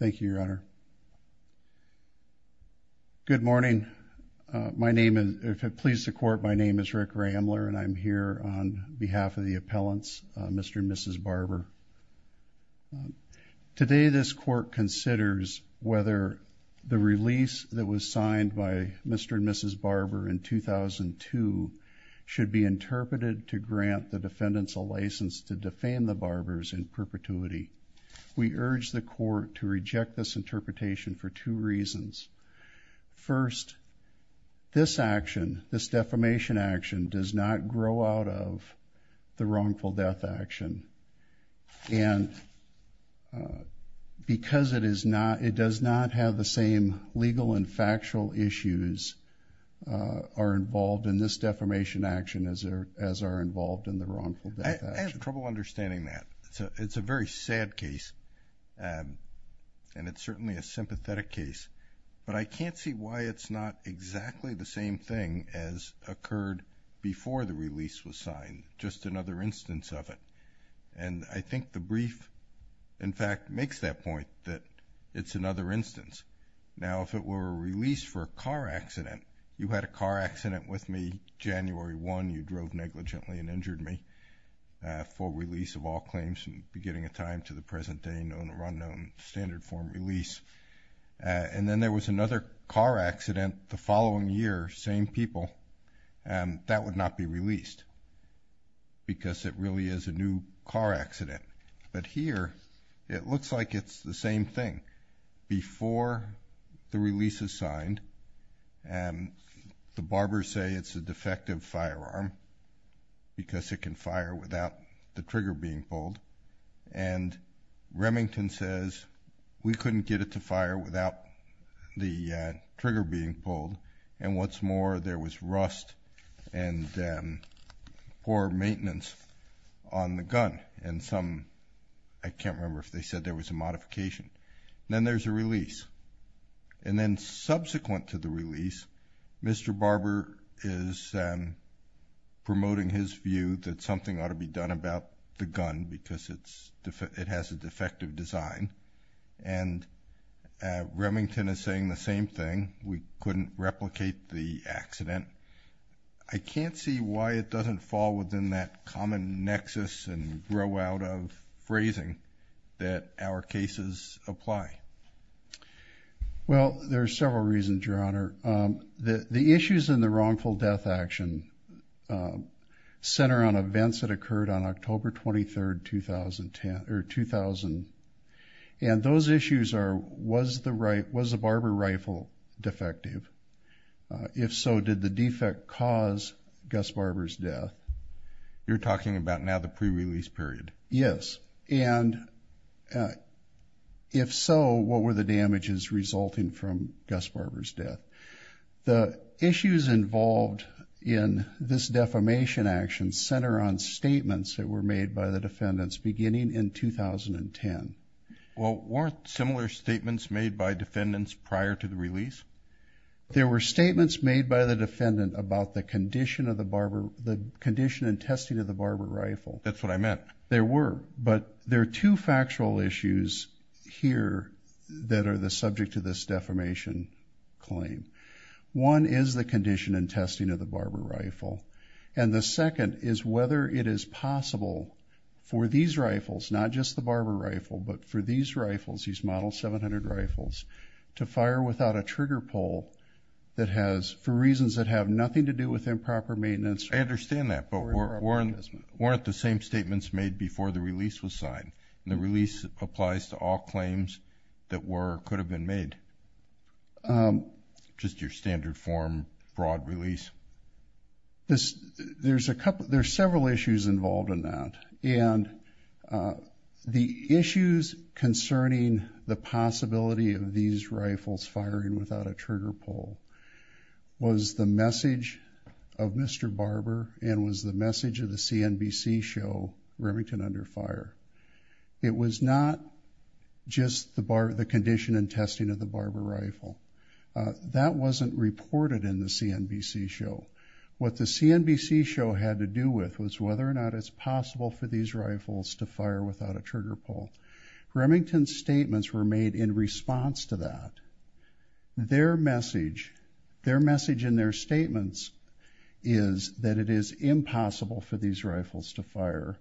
Thank you, Your Honor. Good morning. If it pleases the Court, my name is Rick Ramler and I'm here on behalf of the appellants, Mr. and Mrs. Barber. Today this Court considers whether the release that was signed by Mr. and Mrs. Barber in 2002 should be interpreted to grant the defendants a license to defame the defendant's perpetuity. We urge the Court to reject this interpretation for two reasons. First, this action, this defamation action, does not grow out of the wrongful death action and because it does not have the same legal and factual issues are involved in this defamation action as are involved in the wrongful death action. I have trouble understanding that. It's a very sad case and it's certainly a sympathetic case, but I can't see why it's not exactly the same thing as occurred before the release was signed, just another instance of it. And I think the brief, in fact, makes that point that it's another instance. Now, if it were a release for a car accident, you had a car accident with me January 1, you drove negligently and injured me for release of all claims from the beginning of time to the present day, known or unknown, standard form release. And then there was another car accident the following year, same people, and that would not be released because it really is a new car accident. But here it looks like it's the same thing. Before the release is signed, the Barbers say it's a defective firearm because it can fire without the trigger being pulled. And Remington says we couldn't get it to fire without the trigger being pulled. And what's more, there was rust and poor maintenance on the gun. And some, I can't remember if they said there was a modification. Then there's a release. And subsequent to the release, Mr. Barber is promoting his view that something ought to be done about the gun because it has a defective design. And Remington is saying the same thing. We couldn't replicate the accident. I can't see why it doesn't fall within that common nexus and grow out of phrasing that our cases apply. Well, there are several reasons, Your Honor. The issues in the wrongful death action center on events that occurred on October 23, 2010, or 2000. And those issues are, was the Barber rifle defective? If so, did the defect cause Gus Barber's death? You're talking about now the pre-release period? Yes. And if so, what were the damages resulting from Gus Barber's death? The issues involved in this defamation action center on statements that were made by the defendants beginning in 2010. Well, weren't similar statements made by defendants prior to the release? There were statements made by the defendant about the condition of the Barber, the condition and testing of the Barber rifle. That's what I meant. There were. But there are two factual issues here that are the subject to this defamation claim. One is the condition and testing of the Barber rifle. And the second is whether it is possible for these rifles, not just the Barber rifle, but for these rifles, these model 700 rifles, to fire without a trigger pull that has, for reasons that have nothing to do with improper maintenance. I understand that. But weren't the same statements made before the release was signed? And the release applies to all claims that were or could have been made? Just your standard form, broad release. There's several issues involved in that. And the issues concerning the possibility of these rifles firing without a trigger pull was the message of Mr. Barber and was the message of the CNBC show, Remington Under Fire. It was not just the condition and testing of the Barber rifle. That wasn't reported in the CNBC show. What the CNBC show had to do with was whether or not it's possible for these rifles to fire without a trigger pull. Remington's statements were made in response to that. Their message in their statements is that it is impossible for these rifles to fire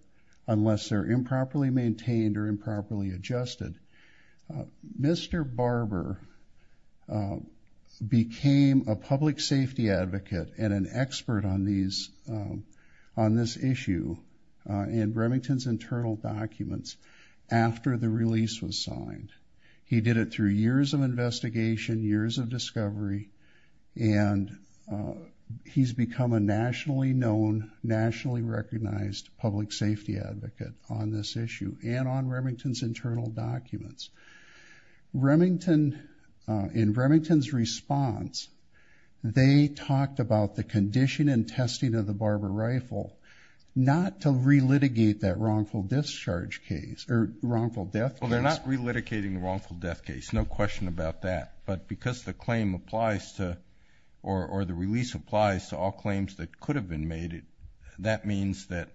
unless they're improperly maintained or improperly adjusted. Mr. Barber became a public safety advocate and an expert on this issue in Remington's internal documents after the release was signed. He did it through years of investigation, years of discovery, and he's become a nationally known, nationally recognized public safety advocate on this issue and on Remington's internal documents. In Remington's response, they talked about the condition and testing of the Barber rifle, not to relitigate that wrongful discharge case or wrongful death case. Well, they're not relitigating the wrongful death case, no question about that, but because the claim applies to or the release applies to all claims that could have been made, that means that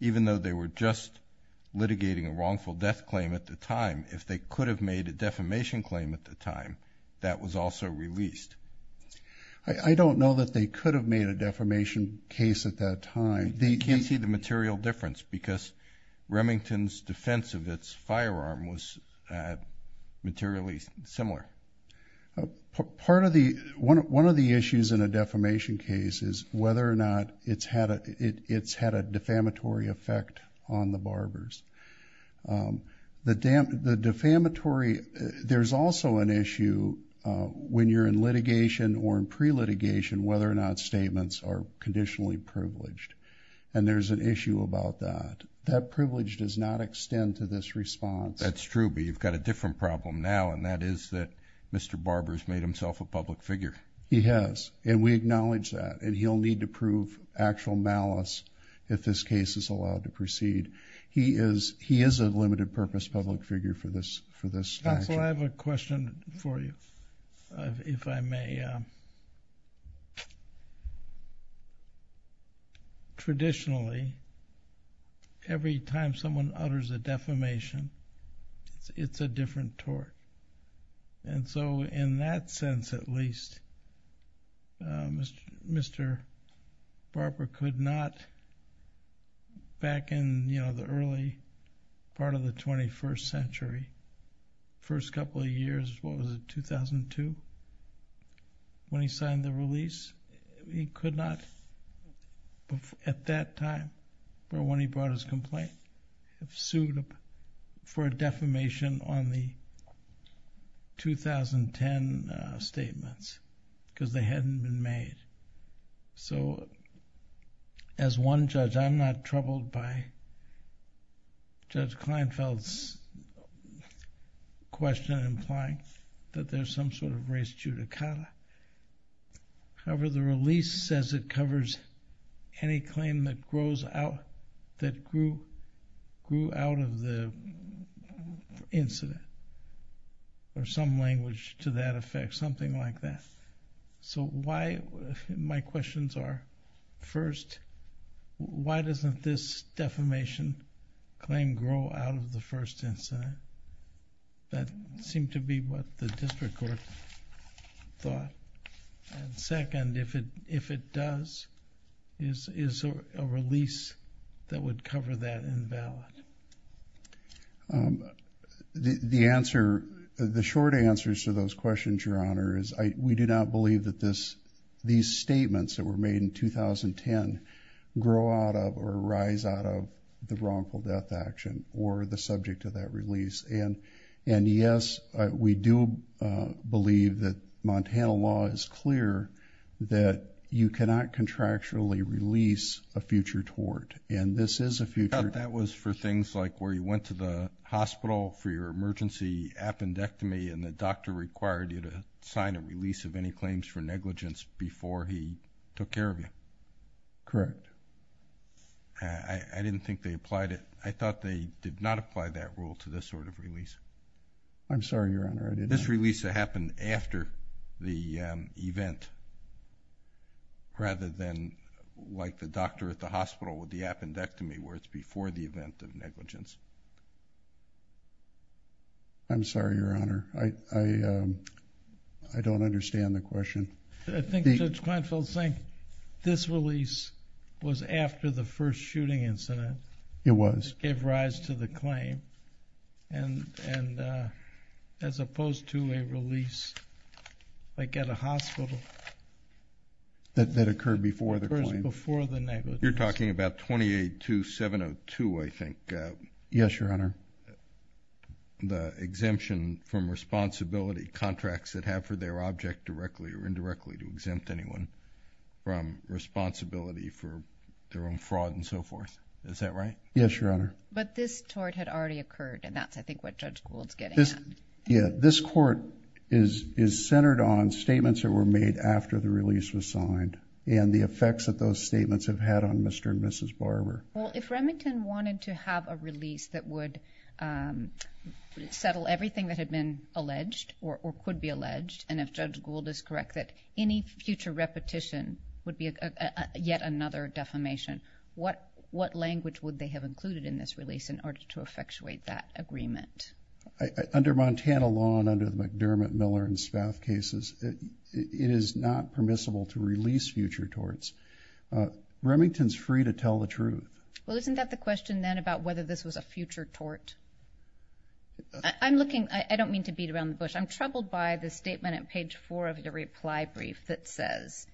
even though they were just litigating a wrongful death claim at the time, if they could have made a defamation claim at the time, that was also released. I don't know that they could have made a defamation case at that time. You can't see the material difference because Remington's defense of its firearm was materially similar. One of the issues in a defamation case is whether or not it's had a defamatory effect on the Barbers. The defamatory, there's also an issue when you're in litigation or in pre-litigation, whether or not statements are conditionally privileged, and there's an issue about that. That privilege does not extend to this response. That's true, but you've got a different problem now, and that is that Mr. Barber's made himself a public figure. He has, and we acknowledge that, and he'll need to prove actual malice if this case is allowed to proceed. He is a limited-purpose public figure for this statute. Counsel, I have a question for you, if I may. Traditionally, every time someone utters a defamation, it's a different tort, and so in that sense at least, Mr. Barber could not back in the early part of the 21st century, first couple of years, what was it, 2002, when he signed the release, he could not at that time, or when he brought his complaint, have sued for a defamation on the 2010 statements because they hadn't been made. As one judge, I'm not troubled by Judge Kleinfeld's question implying that there's some sort of race judicata. However, the release says it covers any claim that grows out, that grew out of the incident, or some language to that effect, something like that. My questions are, first, why doesn't this defamation claim grow out of the first incident? That seemed to be what the district court thought. Second, if it does, is a release that would cover that invalid? The short answer to those questions, Your Honor, is we do not believe that these statements that were made in 2010 grow out of or rise out of the wrongful death action or the subject of that release. Yes, we do believe that Montana law is clear that you cannot contractually release a future tort. That was for things like where you went to the hospital for your emergency appendectomy and the doctor required you to sign a release of any claims for negligence before he took care of you? Correct. I didn't think they applied it. I thought they did not apply that rule to this sort of release. I'm sorry, Your Honor. This release happened after the event rather than like the doctor at the hospital with the appendectomy where it's before the event of negligence. I'm sorry, Your Honor. I don't understand the question. I think Judge Kleinfeld is saying this release was after the first shooting incident. It was. It gave rise to the claim and as opposed to a release like at a hospital. That occurred before the claim. Before the negligence. You're talking about 28-2702, I think. Yes, Your Honor. The exemption from responsibility contracts that have for their object directly or indirectly to exempt anyone from responsibility for their own fraud and so forth. Is that right? Yes, Your Honor. But this tort had already occurred and that's I think what Judge Gould's getting at. Yeah, this court is centered on statements that were made after the release was signed and the effects that those statements have had on Mr. and Mrs. Barber. Well, if Remington wanted to have a release that would settle everything that had been alleged or could be alleged and if Judge Gould is correct that any future repetition would be yet another defamation. What language would they have included in this release in order to effectuate that agreement? Under Montana law and under the McDermott, Miller, and Spaff cases, it is not permissible to release future torts. Remington's free to tell the truth. Well, isn't that the question then about whether this was a future tort? I don't mean to beat around the bush. I'm troubled by the statement on page four of the reply brief that says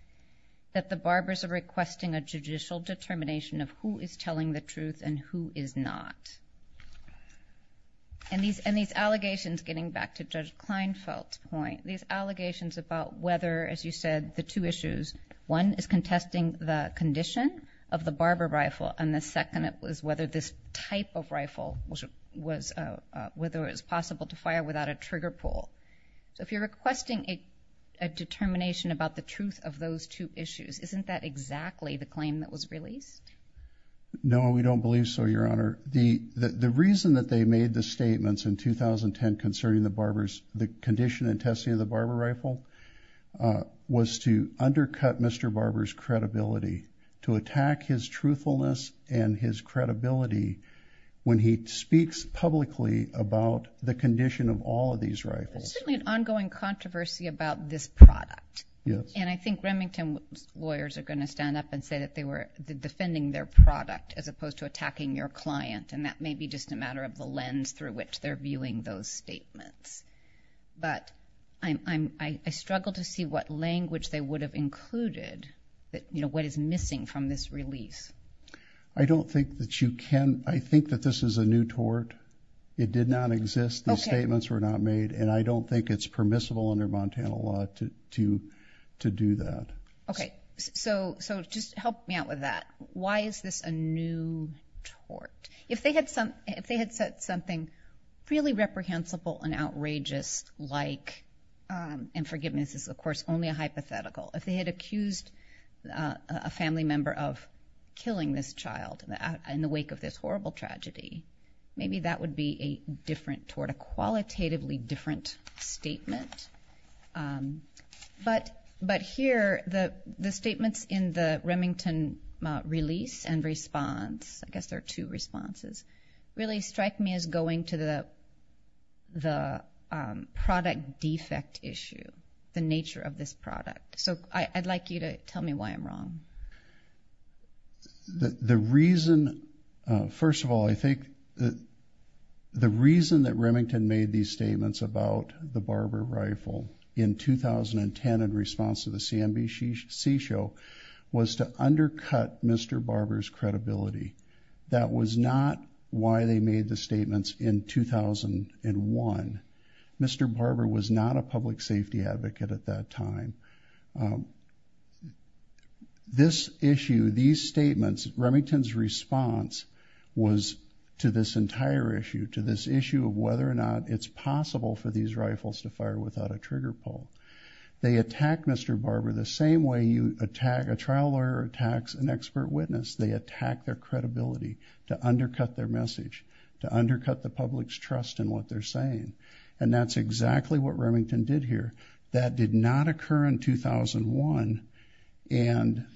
that the Barbers are requesting a judicial determination of who is telling the truth and who is not. And these allegations, getting back to Judge Klinefeld's point, these allegations about whether, as you said, the two issues, one is contesting the condition of the Barber rifle and the second is whether this type of rifle was whether it was possible to fire without a trigger pull. So if you're requesting a determination about the truth of those two issues, isn't that exactly the claim that was released? No, we don't believe so, Your Honor. The reason that they made the statements in 2010 concerning the Barbers, the condition and testing of the Barber rifle, was to undercut Mr. Barber's credibility, to attack his truthfulness and his credibility when he speaks publicly about the condition of all of these rifles. There's certainly an ongoing controversy about this product. Yes. And I think Remington lawyers are going to stand up and say that they were defending their product as opposed to attacking your client. And that may be just a matter of the lens through which they're viewing those statements. But I struggle to see what language they would have included, what is missing from this release. I don't think that you can. I think that this is a new tort. It did not exist. These statements were not made. And I don't think it's permissible under Montana law to do that. Okay, so just help me out with that. Why is this a new tort? If they had said something really reprehensible and outrageous, like, and forgiveness is, of course, only a hypothetical. If they had accused a family member of killing this child in the wake of this horrible tragedy, maybe that would be a different tort, a qualitatively different statement. But here, the statements in the Remington release and response, I guess there are two responses, really strike me as going to the product defect issue, the nature of this product. So I'd like you to tell me why I'm wrong. The reason, first of all, I think the reason that Remington made these statements about the Barber rifle in 2010 in response to the CNBC show was to undercut Mr. Barber's credibility. That was not why they made the statements in 2001. Mr. Barber was not a public safety advocate at that time. So this issue, these statements, Remington's response was to this entire issue, to this issue of whether or not it's possible for these rifles to fire without a trigger pull. They attack Mr. Barber the same way you attack, a trial lawyer attacks an expert witness. They attack their credibility to undercut their message, to undercut the public's trust in what they're saying. And that's exactly what Remington did here. That did not occur in 2001. And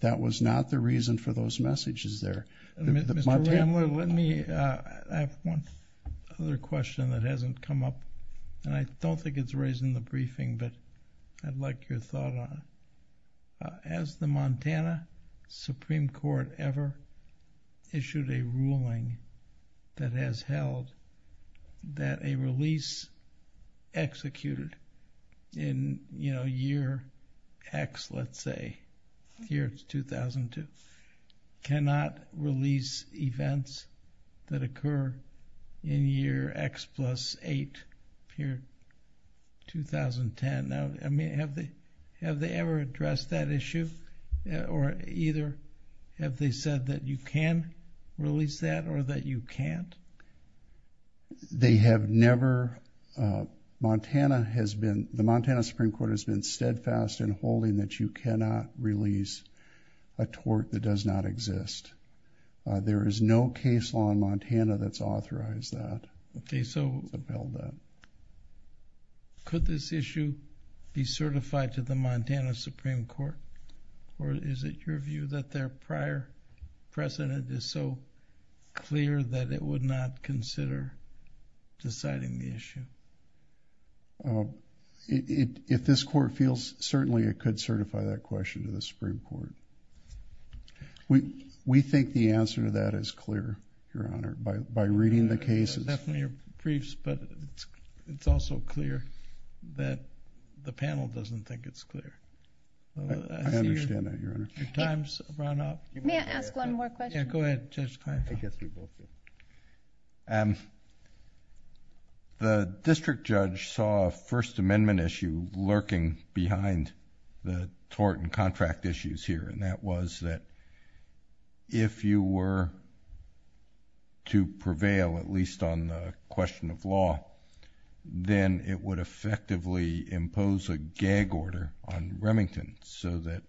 that was not the reason for those messages there. Mr. Tamler, let me, I have one other question that hasn't come up, and I don't think it's raised in the briefing, but I'd like your thought on it. Has the Montana Supreme Court ever issued a ruling that has held that a release executed? In, you know, year X, let's say, year 2002, cannot release events that occur in year X plus eight, year 2010. Now, I mean, have they, have they ever addressed that issue? Or either have they said that you can release that or that you can't? They have never, Montana has been, the Montana Supreme Court has been steadfast in holding that you cannot release a tort that does not exist. There is no case law in Montana that's authorized that. Okay, so could this issue be certified to the Montana Supreme Court? Or is it your view that their prior precedent is so clear that it would not consider deciding the issue? If this court feels certainly it could certify that question to the Supreme Court. We, we think the answer to that is clear, Your Honor, by, by reading the cases. Definitely your briefs, but it's also clear that the panel doesn't think it's clear. I understand that, Your Honor. Your time's run out. May I ask one more question? Yeah, go ahead, Judge Kleinfeld. I guess we both do. The district judge saw a First Amendment issue lurking behind the tort and contract issues here, and that was that if you were to prevail at least on the question of law, then it would effectively impose a gag order on Remington so that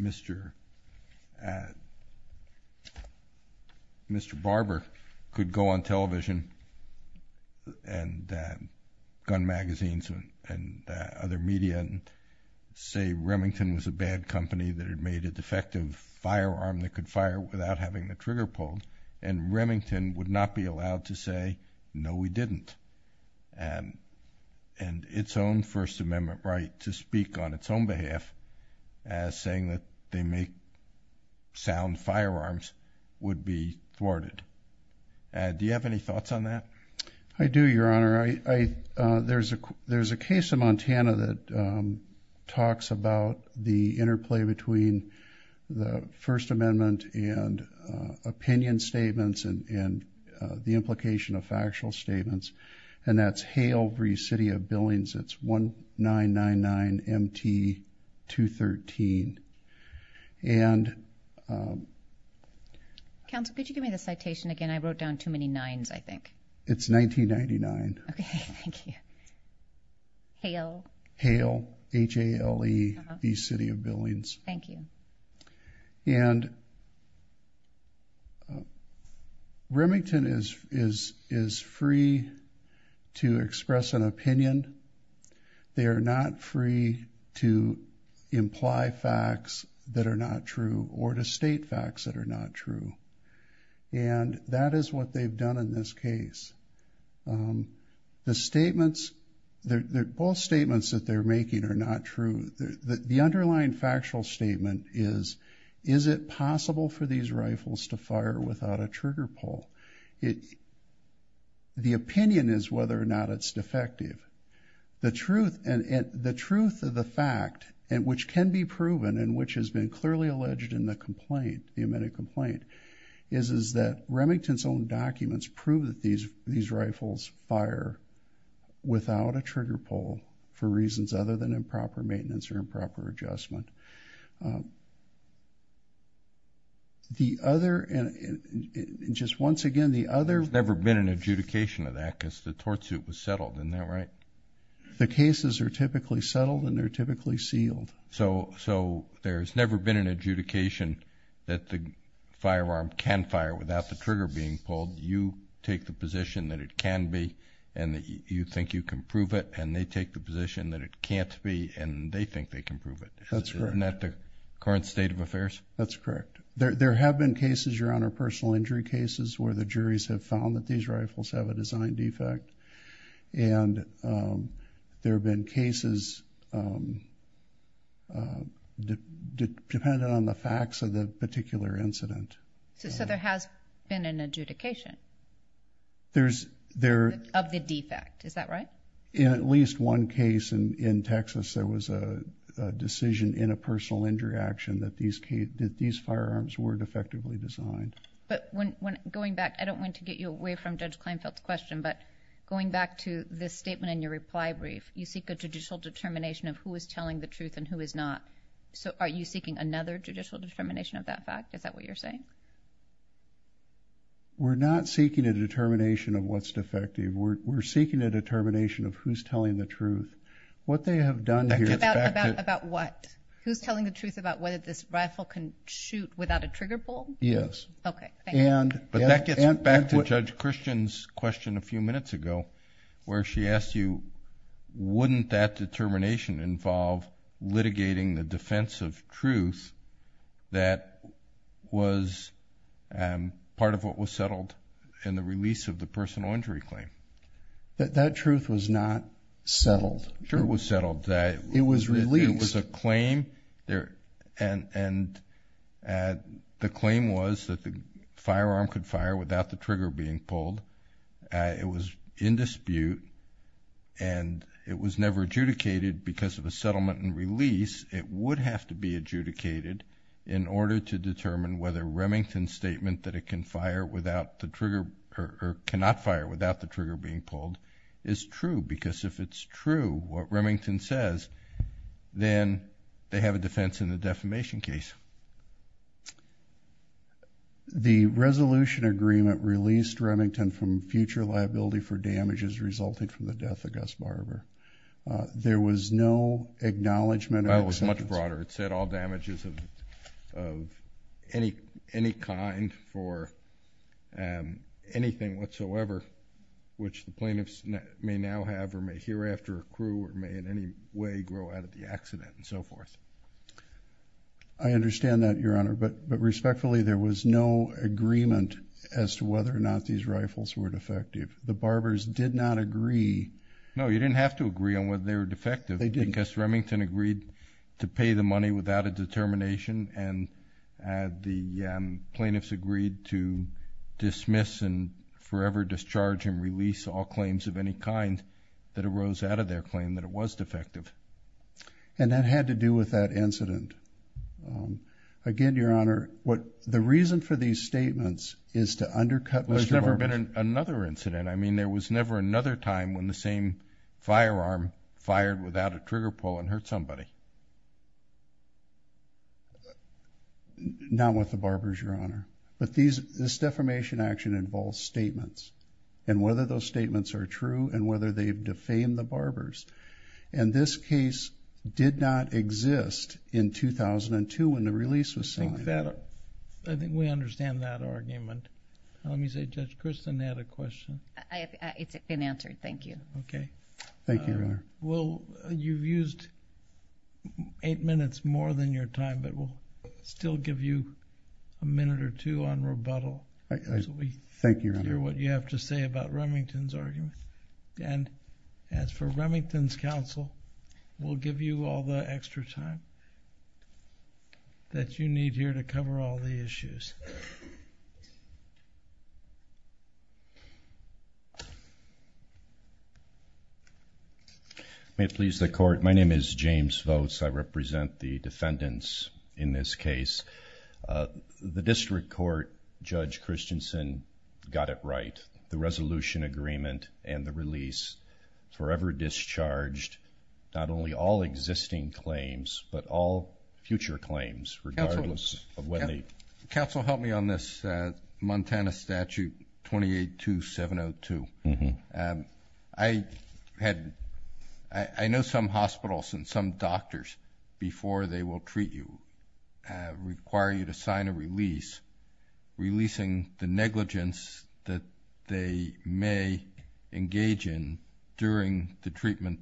Mr. Mr. Barber could go on television and gun magazines and other media and say Remington was a bad company that had made a defective firearm that could fire without having the we didn't and, and its own First Amendment right to speak on its own behalf as saying that they make sound firearms would be thwarted. Do you have any thoughts on that? I do, Your Honor. I, I, uh, there's a, there's a case in Montana that, um, talks about the interplay between the First Amendment and, uh, opinion statements and, and, uh, the implication of factual statements. And that's Hale v. City of Billings. It's 1-999-MT-213. And, um. Counsel, could you give me the citation again? I wrote down too many nines, I think. It's 1999. Okay, thank you. Hale. Hale, H-A-L-E v. City of Billings. Thank you. And, uh, Remington is, is, is free to express an opinion. They are not free to imply facts that are not true or to state facts that are not true. And that is what they've done in this case. Um, the statements, the, the false statements that they're making are not true. The underlying factual statement is, is it possible for these rifles to fire without a trigger pull? It, the opinion is whether or not it's defective. The truth, and, and the truth of the fact, and which can be proven, and which has been clearly alleged in the complaint, the amended complaint, is, is that Remington's own documents prove that these, these rifles fire without a trigger pull for reasons other than improper maintenance or improper adjustment. The other, and just once again, the other. There's never been an adjudication of that because the tortsuit was settled, isn't that right? The cases are typically settled and they're typically sealed. So, so there's never been an adjudication that the firearm can fire without the trigger being pulled. You take the position that it can be, and that you think you can prove it, and they take the position that it can't be, and they think they can prove it. That's correct. Isn't that the current state of affairs? That's correct. There, there have been cases, Your Honor, personal injury cases where the juries have found that these rifles have a design defect, and there have been cases dependent on the facts of the particular incident. So there has been an adjudication? There's, there. Of the defect, is that right? In at least one case in Texas, there was a decision in a personal injury action that these, that these firearms were defectively designed. But when, when going back, I don't want to get you away from Judge Kleinfeld's question, but going back to this statement in your reply brief, you seek a judicial determination of who is telling the truth and who is not. So are you seeking another judicial determination of that fact? Is that what you're saying? We're not seeking a determination of what's defective. We're seeking a determination of who's telling the truth. What they have done here... About, about, about what? Who's telling the truth about whether this rifle can shoot without a trigger pull? Yes. Okay, thank you. And... But that gets back to Judge Christian's question a few minutes ago, where she asked you, wouldn't that determination involve litigating the defense of truth that was part of what was settled in the release of the personal injury claim? That truth was not settled. Sure, it was settled. That... It was released. It was a claim. And the claim was that the firearm could fire without the trigger being pulled. It was in dispute. And it was never adjudicated because of a settlement and release. It would have to be adjudicated in order to determine whether Remington's statement that can fire without the trigger, or cannot fire without the trigger being pulled, is true. Because if it's true, what Remington says, then they have a defense in the defamation case. The resolution agreement released Remington from future liability for damages resulting from the death of Gus Barber. There was no acknowledgement of... That was much broader. It said all damages of any kind for anything whatsoever, which the plaintiffs may now have, or may hear after, accrue, or may in any way grow out of the accident, and so forth. I understand that, Your Honor. But respectfully, there was no agreement as to whether or not these rifles were defective. The Barbers did not agree... No, you didn't have to agree on whether they were defective. They didn't. Gus Remington agreed to pay the money without a determination, and the plaintiffs agreed to dismiss and forever discharge and release all claims of any kind that arose out of their claim that it was defective. And that had to do with that incident. Again, Your Honor, the reason for these statements is to undercut Mr. Barber. Well, there's never been another incident. There was never another time when the same firearm fired without a trigger pull and hurt somebody. Not with the Barbers, Your Honor. But this defamation action involves statements, and whether those statements are true, and whether they've defamed the Barbers. And this case did not exist in 2002 when the release was signed. I think we understand that argument. Let me say, Judge Kristin had a question. It's been answered. Thank you. Thank you, Your Honor. Well, you've used eight minutes more than your time, but we'll still give you a minute or two on rebuttal. Thank you, Your Honor. Hear what you have to say about Remington's argument. And as for Remington's counsel, we'll give you all the extra time that you need here to cover all the issues. May it please the court, my name is James Votes. I represent the defendants in this case. The district court, Judge Christensen, got it right. The resolution agreement and the release forever discharged not only all existing claims, but all future claims, regardless of when they... I know some hospitals and some doctors, before they will treat you, require you to sign a release, releasing the negligence that they may engage in during the treatment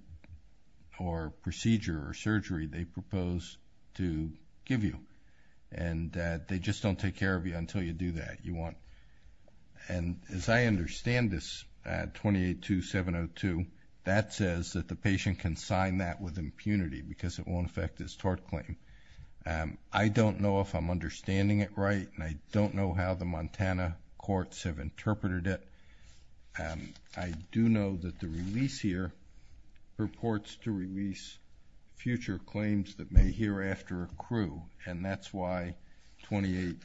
or procedure or surgery they propose to give you. And they just don't take care of you until you do that. You want... And as I understand this, 28-2702, that says that the patient can sign that with impunity because it won't affect his tort claim. I don't know if I'm understanding it right. And I don't know how the Montana courts have interpreted it. I do know that the release here purports to release future claims that may hereafter accrue. And that's why 28-2702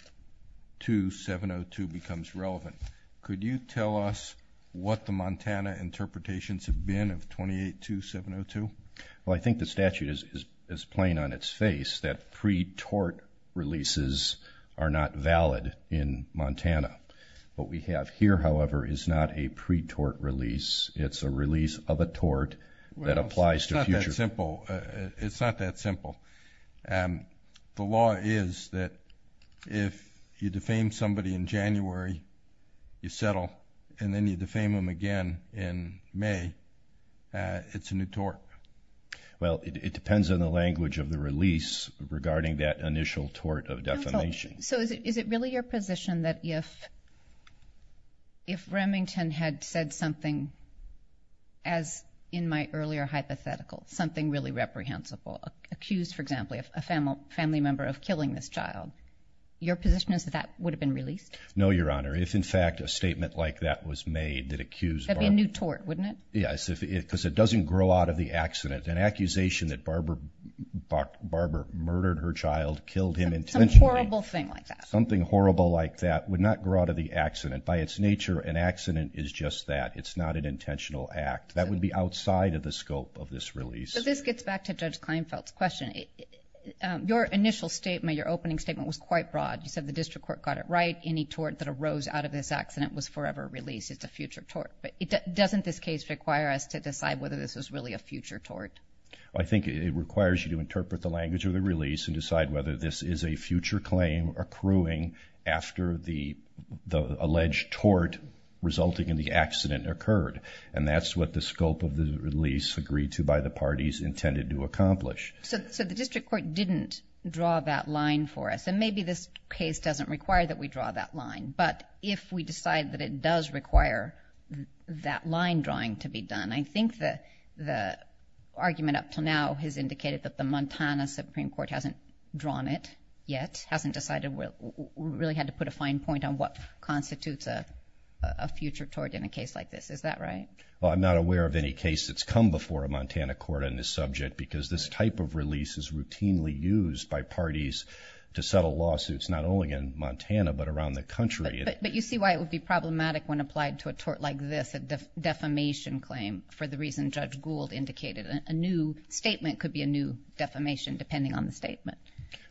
becomes relevant. Could you tell us what the Montana interpretations have been of 28-2702? Well, I think the statute is plain on its face that pre-tort releases are not valid in Montana. What we have here, however, is not a pre-tort release. It's a release of a tort that applies to future... It's not that simple. The law is that if you defame somebody in January, you settle, and then you defame them again in May, it's a new tort. Well, it depends on the language of the release regarding that initial tort of defamation. So is it really your position that if Remington had said something, as in my earlier hypothetical, something really reprehensible, accused, for example, a family member of killing this child, your position is that that would have been released? No, Your Honor. If, in fact, a statement like that was made that accused Barbara... That'd be a new tort, wouldn't it? Yes, because it doesn't grow out of the accident. An accusation that Barbara murdered her child, killed him intentionally... Some horrible thing like that. Something horrible like that would not grow out of the accident. By its nature, an accident is just that. It's not an intentional act. That would be outside of the scope of this release. This gets back to Judge Kleinfeld's question. Your initial statement, your opening statement, was quite broad. You said the district court got it right. Any tort that arose out of this accident was forever released. It's a future tort. But doesn't this case require us to decide whether this is really a future tort? I think it requires you to interpret the language of the release and decide whether this is a future claim accruing after the alleged tort resulting in the accident occurred. And that's what the scope of the release agreed to by the parties intended to accomplish. So the district court didn't draw that line for us. And maybe this case doesn't require that we draw that line. But if we decide that it does require that line drawing to be done, I think the argument up to now has indicated that the Montana Supreme Court hasn't drawn it yet, hasn't decided. We really had to put a fine point on what constitutes a future tort in a case like this. Well, I'm not aware of any case that's come before a Montana court on this subject because this type of release is routinely used by parties to settle lawsuits, not only in Montana, but around the country. But you see why it would be problematic when applied to a tort like this, a defamation claim, for the reason Judge Gould indicated. A new statement could be a new defamation depending on the statement.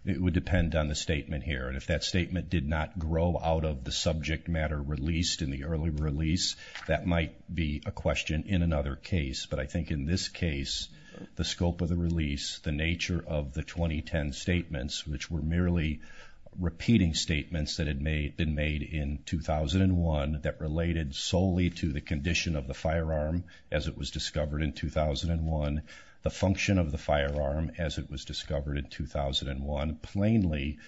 It would depend on the statement here. And if that statement did not grow out of the subject matter released in the early release, that might be a question in another case. But I think in this case, the scope of the release, the nature of the 2010 statements, which were merely repeating statements that had been made in 2001 that related solely to the condition of the firearm as it was discovered in 2001, the function of the firearm as it was discovered in 2001, plainly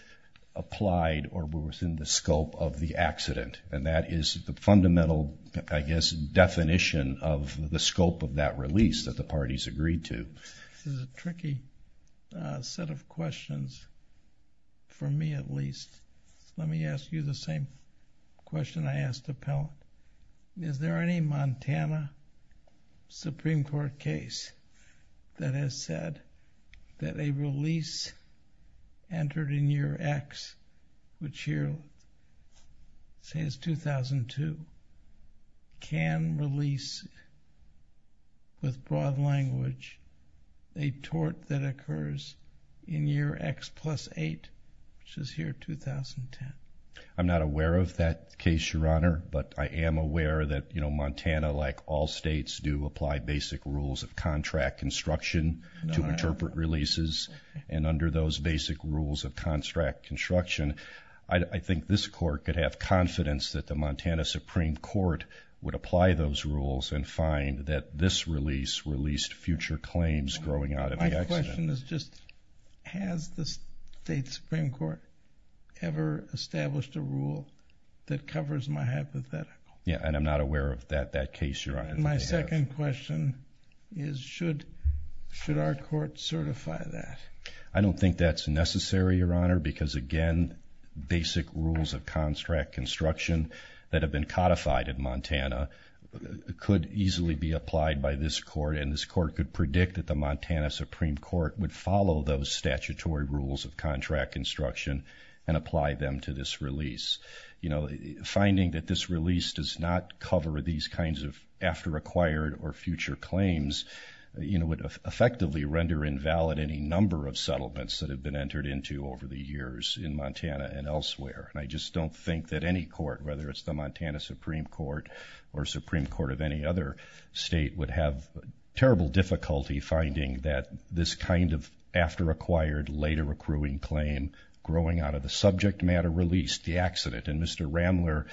applied or within the scope of the accident. And that is the fundamental, I guess, definition of the scope of that release that the parties agreed to. This is a tricky set of questions, for me at least. Let me ask you the same question I asked the panel. Is there any Montana Supreme Court case that has said that a release entered in year X, which here says 2002, can release with broad language a tort that occurs in year X plus 8, which is here 2010? I'm not aware of that case, Your Honor. But I am aware that Montana, like all states, do apply basic rules of contract construction to interpret releases. And under those basic rules of contract construction, I think this court could have confidence that the Montana Supreme Court would apply those rules and find that this release released future claims growing out of the accident. My question is just, has the state Supreme Court ever established a rule that covers my hypothetical? Yeah, and I'm not aware of that case, Your Honor. My second question is, should our court certify that? I don't think that's necessary, Your Honor, because again, basic rules of contract construction that have been codified in Montana could easily be applied by this court. And this court could predict that the Montana Supreme Court would follow those statutory rules of contract construction and apply them to this release. You know, finding that this release does not cover these kinds of after acquired or future claims, you know, would effectively render invalid any number of settlements that have been entered into over the years in Montana and elsewhere. And I just don't think that any court, whether it's the Montana Supreme Court or Supreme Court of any other state would have terrible difficulty finding that this kind of after acquired later accruing claim growing out of the subject matter release, the accident. And Mr. Ramler,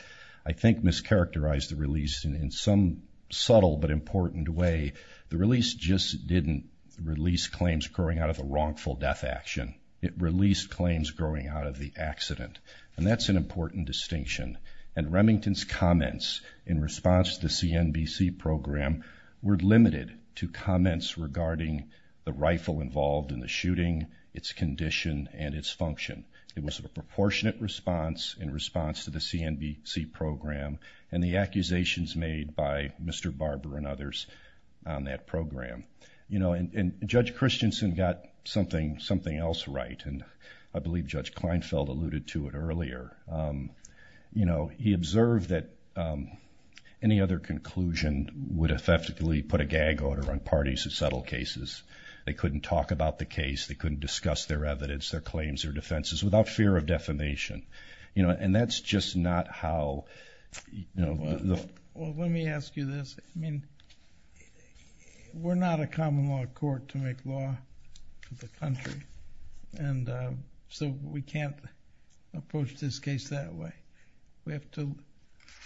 I think, mischaracterized the release in some subtle but important way. The release just didn't release claims growing out of a wrongful death action. It released claims growing out of the accident. And that's an important distinction. And Remington's comments in response to the CNBC program were limited to comments regarding the rifle involved in the shooting, its condition, and its function. It was a proportionate response in response to the CNBC program and the accusations made by Mr. Barber and others on that program. You know, and Judge Christensen got something else right. And I believe Judge Kleinfeld alluded to it earlier. You know, he observed that any other conclusion would have theftically put a gag order on parties who settle cases. They couldn't talk about the case. They couldn't discuss their evidence, their claims, their defenses without fear of defamation. You know, and that's just not how, you know. Well, let me ask you this. I mean, we're not a common law court to make law for the country. And so we can't approach this case that way. We have to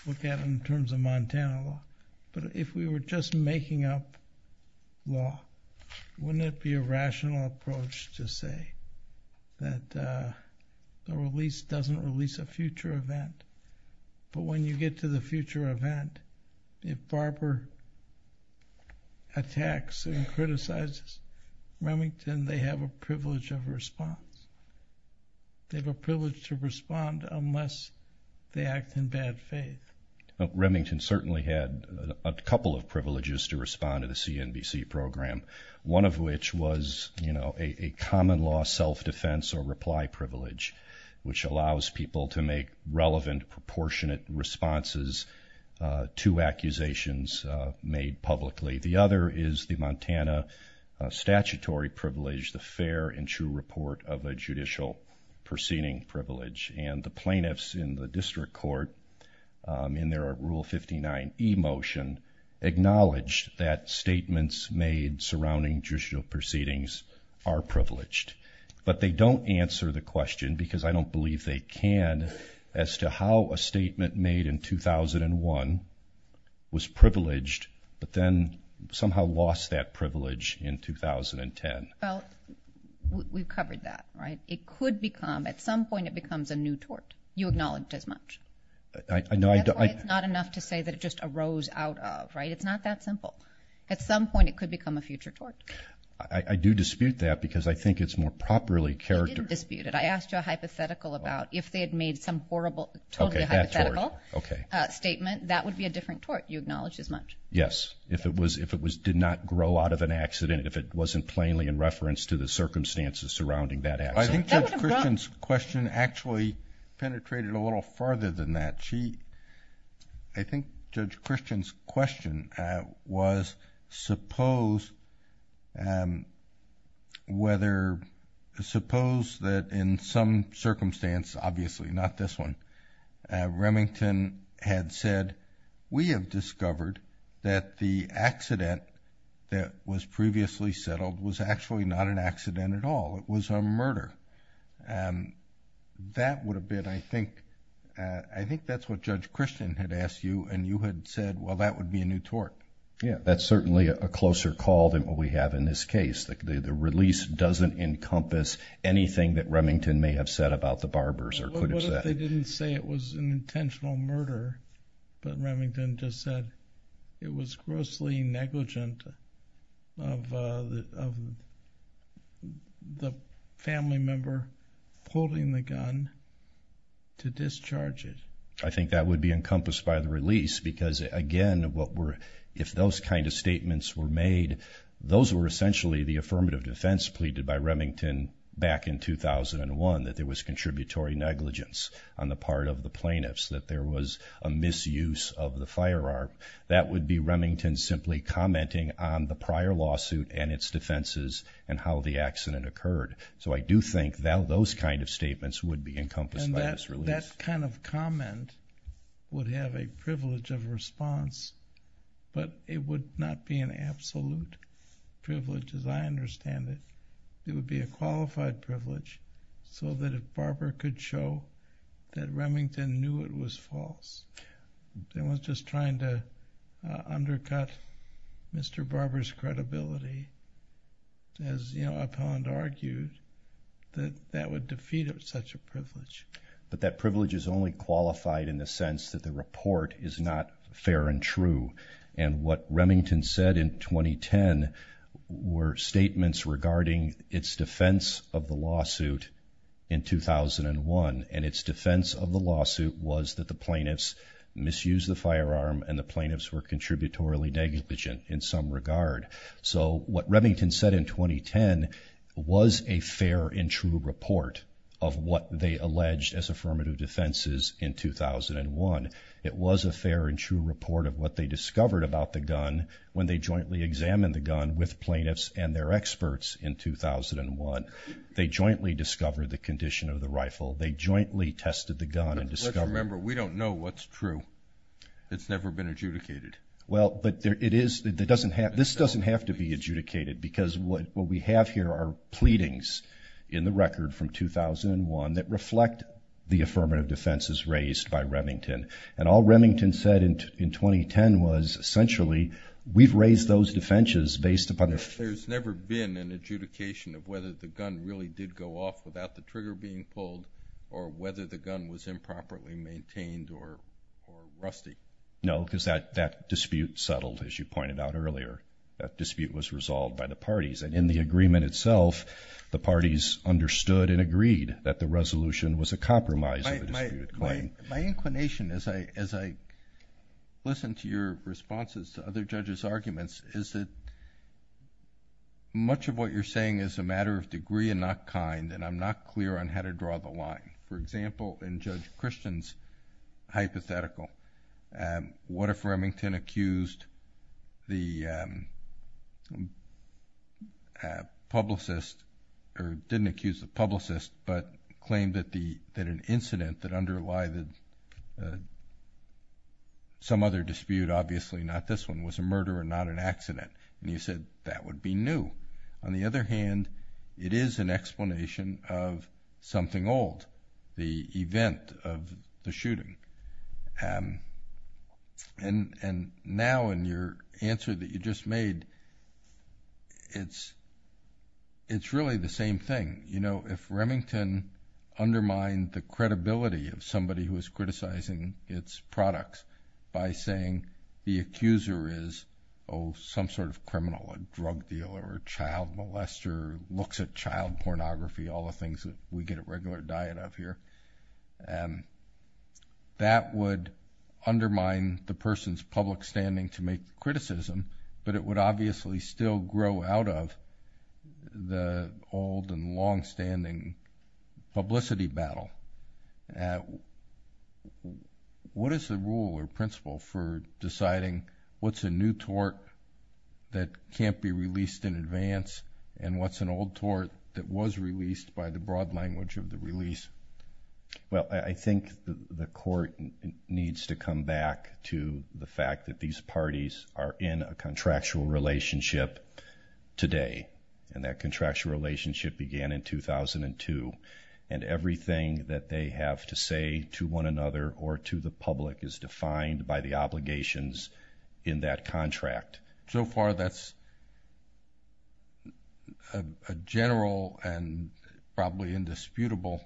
look at it in terms of Montana law. But if we were just making up law, wouldn't it be a rational approach to say that the release doesn't release a future event? But when you get to the future event, if Barber attacks and criticizes Remington, they have a privilege of response. They have a privilege to respond unless they act in bad faith. Remington certainly had a couple of privileges to respond to the CNBC program, one of which was, you know, a common law self-defense or reply privilege, which allows people to make relevant, proportionate responses to accusations made publicly. The other is the Montana statutory privilege, the fair and true report of a judicial proceeding privilege. And the plaintiffs in the district court, in their Rule 59e motion, acknowledged that statements made surrounding judicial proceedings are privileged. But they don't answer the question, because I don't believe they can, as to how a statement made in 2001 was privileged, but then somehow lost that privilege in 2010. Well, we've covered that, right? At some point, it becomes a new tort. You acknowledged as much. That's why it's not enough to say that it just arose out of, right? It's not that simple. At some point, it could become a future tort. I do dispute that, because I think it's more properly characterized. You didn't dispute it. I asked you a hypothetical about if they had made some horrible, totally hypothetical statement, that would be a different tort. You acknowledged as much. Yes, if it did not grow out of an accident, if it wasn't plainly in reference to the circumstances surrounding that accident. I think Judge Christian's question actually penetrated a little farther than that. I think Judge Christian's question was, suppose that in some circumstance, obviously not this one, Remington had said, we have discovered that the accident that was previously settled was actually not an accident at all. It was a murder. That would have been, I think, I think that's what Judge Christian had asked you, and you had said, well, that would be a new tort. Yeah, that's certainly a closer call than what we have in this case. The release doesn't encompass anything that Remington may have said about the barbers. What if they didn't say it was an intentional murder, but Remington just said it was grossly negligent of the family member holding the gun to discharge it? I think that would be encompassed by the release, because again, if those kind of statements were made, those were essentially the affirmative defense pleaded by Remington back in 2001, that there was contributory negligence on the part of the plaintiffs, that there was a misuse of the firearm. That would be Remington simply commenting on the prior lawsuit and its defenses and how the accident occurred. So I do think those kind of statements would be encompassed by this release. That kind of comment would have a privilege of response, but it would not be an absolute privilege as I understand it. It would be a qualified privilege, so that if Barber could show that Remington knew it was false, they weren't just trying to undercut Mr. Barber's credibility, as Appellant argued, that that would defeat such a privilege. But that privilege is only qualified in the sense that the report is not fair and true. And what Remington said in 2010 were statements regarding its defense of the lawsuit in 2001. And its defense of the lawsuit was that the plaintiffs misused the firearm and the plaintiffs were contributory negligent in some regard. So what Remington said in 2010 was a fair and true report of what they alleged as affirmative defenses in 2001. It was a fair and true report of what they discovered about the gun when they jointly examined the gun with plaintiffs and their experts in 2001. They jointly discovered the condition of the rifle. They jointly tested the gun and discovered- Let's remember, we don't know what's true. It's never been adjudicated. Well, but it is. This doesn't have to be adjudicated, because what we have here are pleadings in the record from 2001 that reflect the affirmative defenses raised by Remington. And all Remington said in 2010 was essentially, we've raised those defenses based upon- There's never been an adjudication of whether the gun really did go off without the trigger being pulled, or whether the gun was improperly maintained or rusty. No, because that dispute settled, as you pointed out earlier. That dispute was resolved by the parties. And in the agreement itself, the parties understood and agreed that the resolution was a compromise of the dispute claim. My inclination, as I listen to your responses to other judges' arguments, is that much of what you're saying is a matter of degree and not kind, and I'm not clear on how to draw the line. For example, in Judge Christian's hypothetical, and what if Remington accused the publicist, or didn't accuse the publicist, but claimed that an incident that underlie some other dispute, obviously not this one, was a murder and not an accident. And you said that would be new. On the other hand, it is an explanation of something old, the event of the shooting. And now, in your answer that you just made, it's really the same thing. You know, if Remington undermined the credibility of somebody who is criticizing its products by saying the accuser is, oh, some sort of criminal, a drug dealer, or a child molester, looks at child pornography, all the things that we get a regular diet of here, and that would undermine the person's public standing to make criticism, but it would obviously still grow out of the old and longstanding publicity battle. What is the rule or principle for deciding what's a new tort that can't be released in advance, and what's an old tort that was released by the broad language of the release? Well, I think the court needs to come back to the fact that these parties are in a contractual relationship today. And that contractual relationship began in 2002. And everything that they have to say to one another or to the public is defined by the obligations in that contract. So far, that's a general and probably indisputable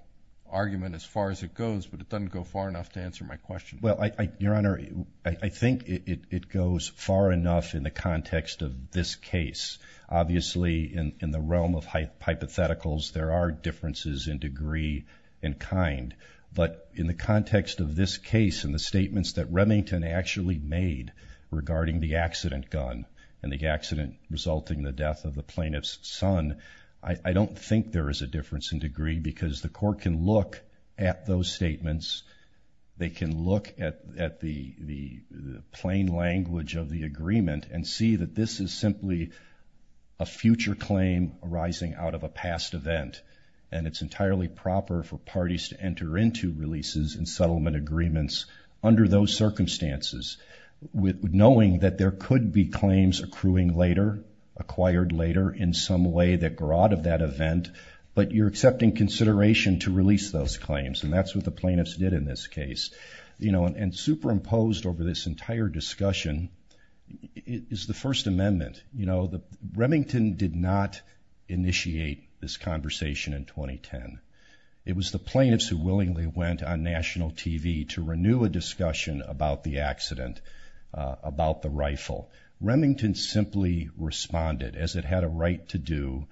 argument as far as it goes, but it doesn't go far enough to answer my question. Well, Your Honor, I think it goes far enough in the context of this case. Obviously, in the realm of hypotheticals, there are differences in degree and kind. But in the context of this case and the statements that Remington actually made regarding the accident gun and the accident resulting in the death of the plaintiff's son, I don't think there is a difference in degree because the court can look at those statements. They can look at the plain language of the agreement and see that this is simply a future claim arising out of a past event. And it's entirely proper for parties to enter into releases and settlement agreements under those circumstances, knowing that there could be claims accruing later, acquired later in some way that grow out of that event, but you're accepting consideration to release those claims. And that's what the plaintiffs did in this case. And superimposed over this entire discussion is the First Amendment. Remington did not initiate this conversation in 2010. It was the plaintiffs who willingly went on national TV to renew a discussion about the accident, about the rifle. Remington simply responded as it had a right to do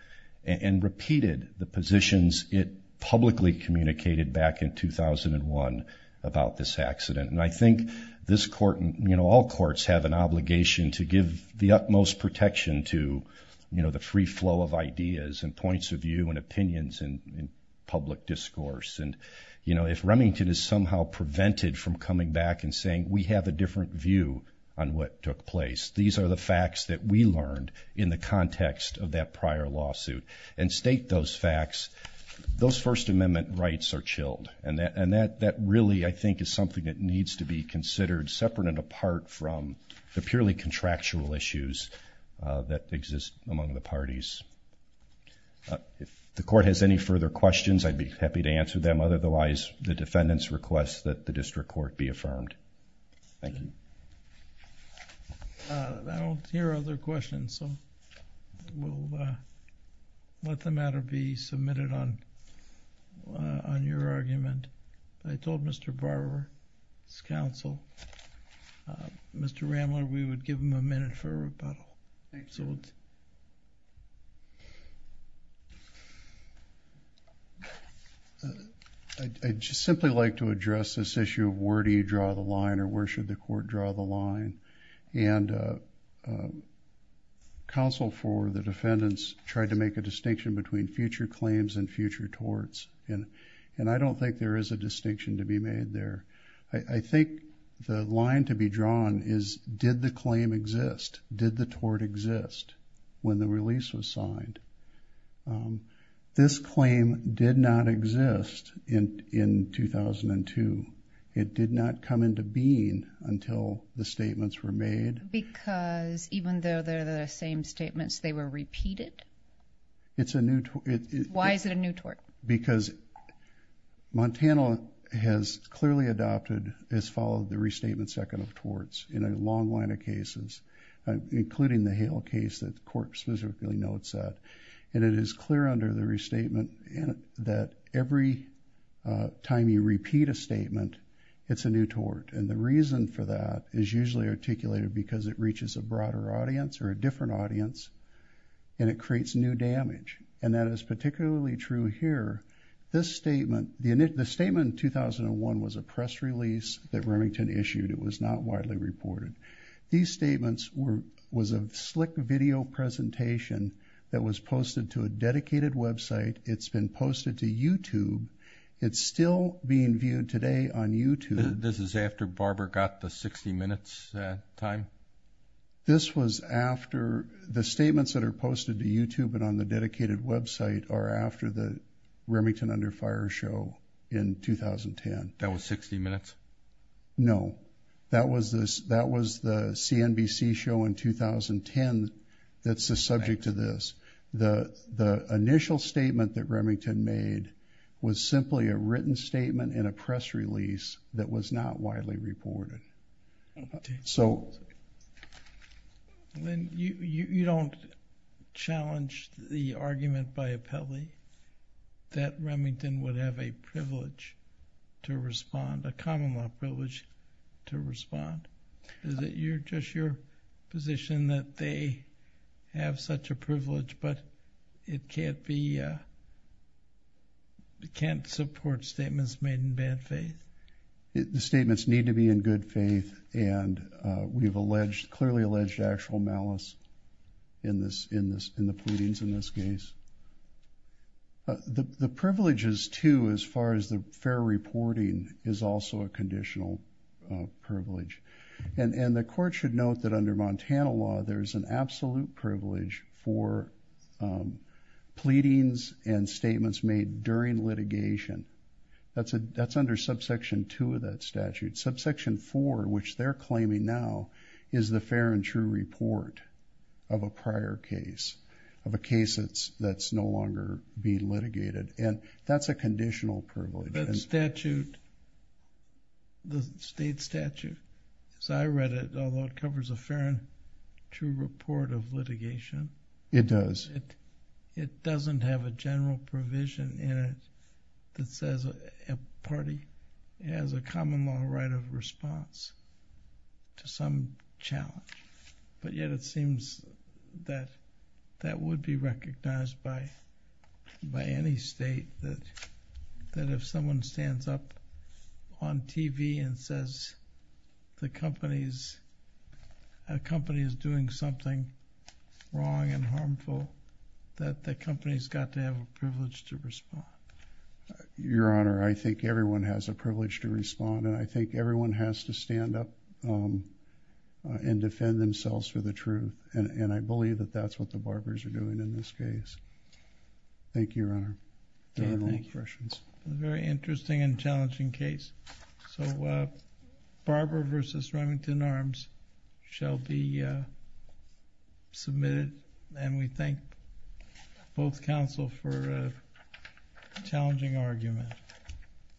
and repeated the positions it publicly communicated back in 2001 about this accident. And I think this court, all courts have an obligation to give the utmost protection to the free flow of ideas and points of view and opinions and public discourse. And if Remington is somehow prevented from coming back and saying, we have a different view on what took place, these are the facts that we learned in the context of that prior lawsuit and state those facts, those First Amendment rights are chilled. And that really, I think, is something that needs to be considered separate and apart from the purely contractual issues that exist among the parties. If the court has any further questions, I'd be happy to answer them. Otherwise, the defendants request that the district court be affirmed. Thank you. I don't hear other questions, so we'll let the matter be submitted on your argument. I told Mr. Barber, his counsel, Mr. Rambler, we would give him a minute for rebuttal. I'd just simply like to address this issue of where do you draw the line or where should the court draw the line? And counsel for the defendants tried to make a distinction between future claims and future torts. And I don't think there is a distinction to be made there. I think the line to be drawn is, did the claim exist? Did the tort exist when the release was signed? This claim did not exist in 2002. It did not come into being until the statements were made. Because even though they're the same statements, they were repeated? Why is it a new tort? Because Montana has clearly adopted, has followed the restatement second of torts in a long line of cases, including the Hale case that the court specifically notes that. And it is clear under the restatement that every time you repeat a statement, it's a new tort. And the reason for that is usually articulated because it reaches a broader audience or a different audience and it creates new damage. And that is particularly true here. This statement, the statement in 2001 was a press release that Remington issued. It was not widely reported. These statements were, was a slick video presentation that was posted to a dedicated website. It's been posted to YouTube. It's still being viewed today on YouTube. This is after Barbara got the 60 minutes time? This was after the statements that are posted to YouTube and on the dedicated website are after the Remington Under Fire show in 2010. That was 60 minutes? No, that was the CNBC show in 2010 that's the subject to this. The initial statement that Remington made was simply a written statement in a press release that was not widely reported. So. Lynn, you don't challenge the argument by appellee that Remington would have a privilege to respond, a common law privilege to respond. Is it just your position that they have such a privilege, but it can't be, it can't support statements made in bad faith? The statements need to be in good faith. And we've alleged, clearly alleged actual malice in this, in this, in the pleadings in this case. The privileges too, as far as the fair reporting is also a conditional privilege. And the court should note that under Montana law, there's an absolute privilege for pleadings and statements made during litigation. That's under subsection two of that statute, subsection four, which they're claiming now is the fair and true report of a prior case, of a case that's no longer being litigated. And that's a conditional privilege. That statute, the state statute, as I read it, although it covers a fair and true report of litigation. It does. It doesn't have a general provision in it that says a party has a common law right of response to some challenge. But yet it seems that that would be recognized by, by any state that, that if someone stands up on TV and says the company's, a company is doing something wrong and harmful, that the company's got to have a privilege to respond. Your honor, I think everyone has a privilege to respond. And I think everyone has to stand up and defend themselves for the truth. And I believe that that's what the barbers are doing in this case. Thank you, your honor. A very interesting and challenging case. So Barbara versus Remington Arms shall be submitted. And we thank both counsel for a challenging argument.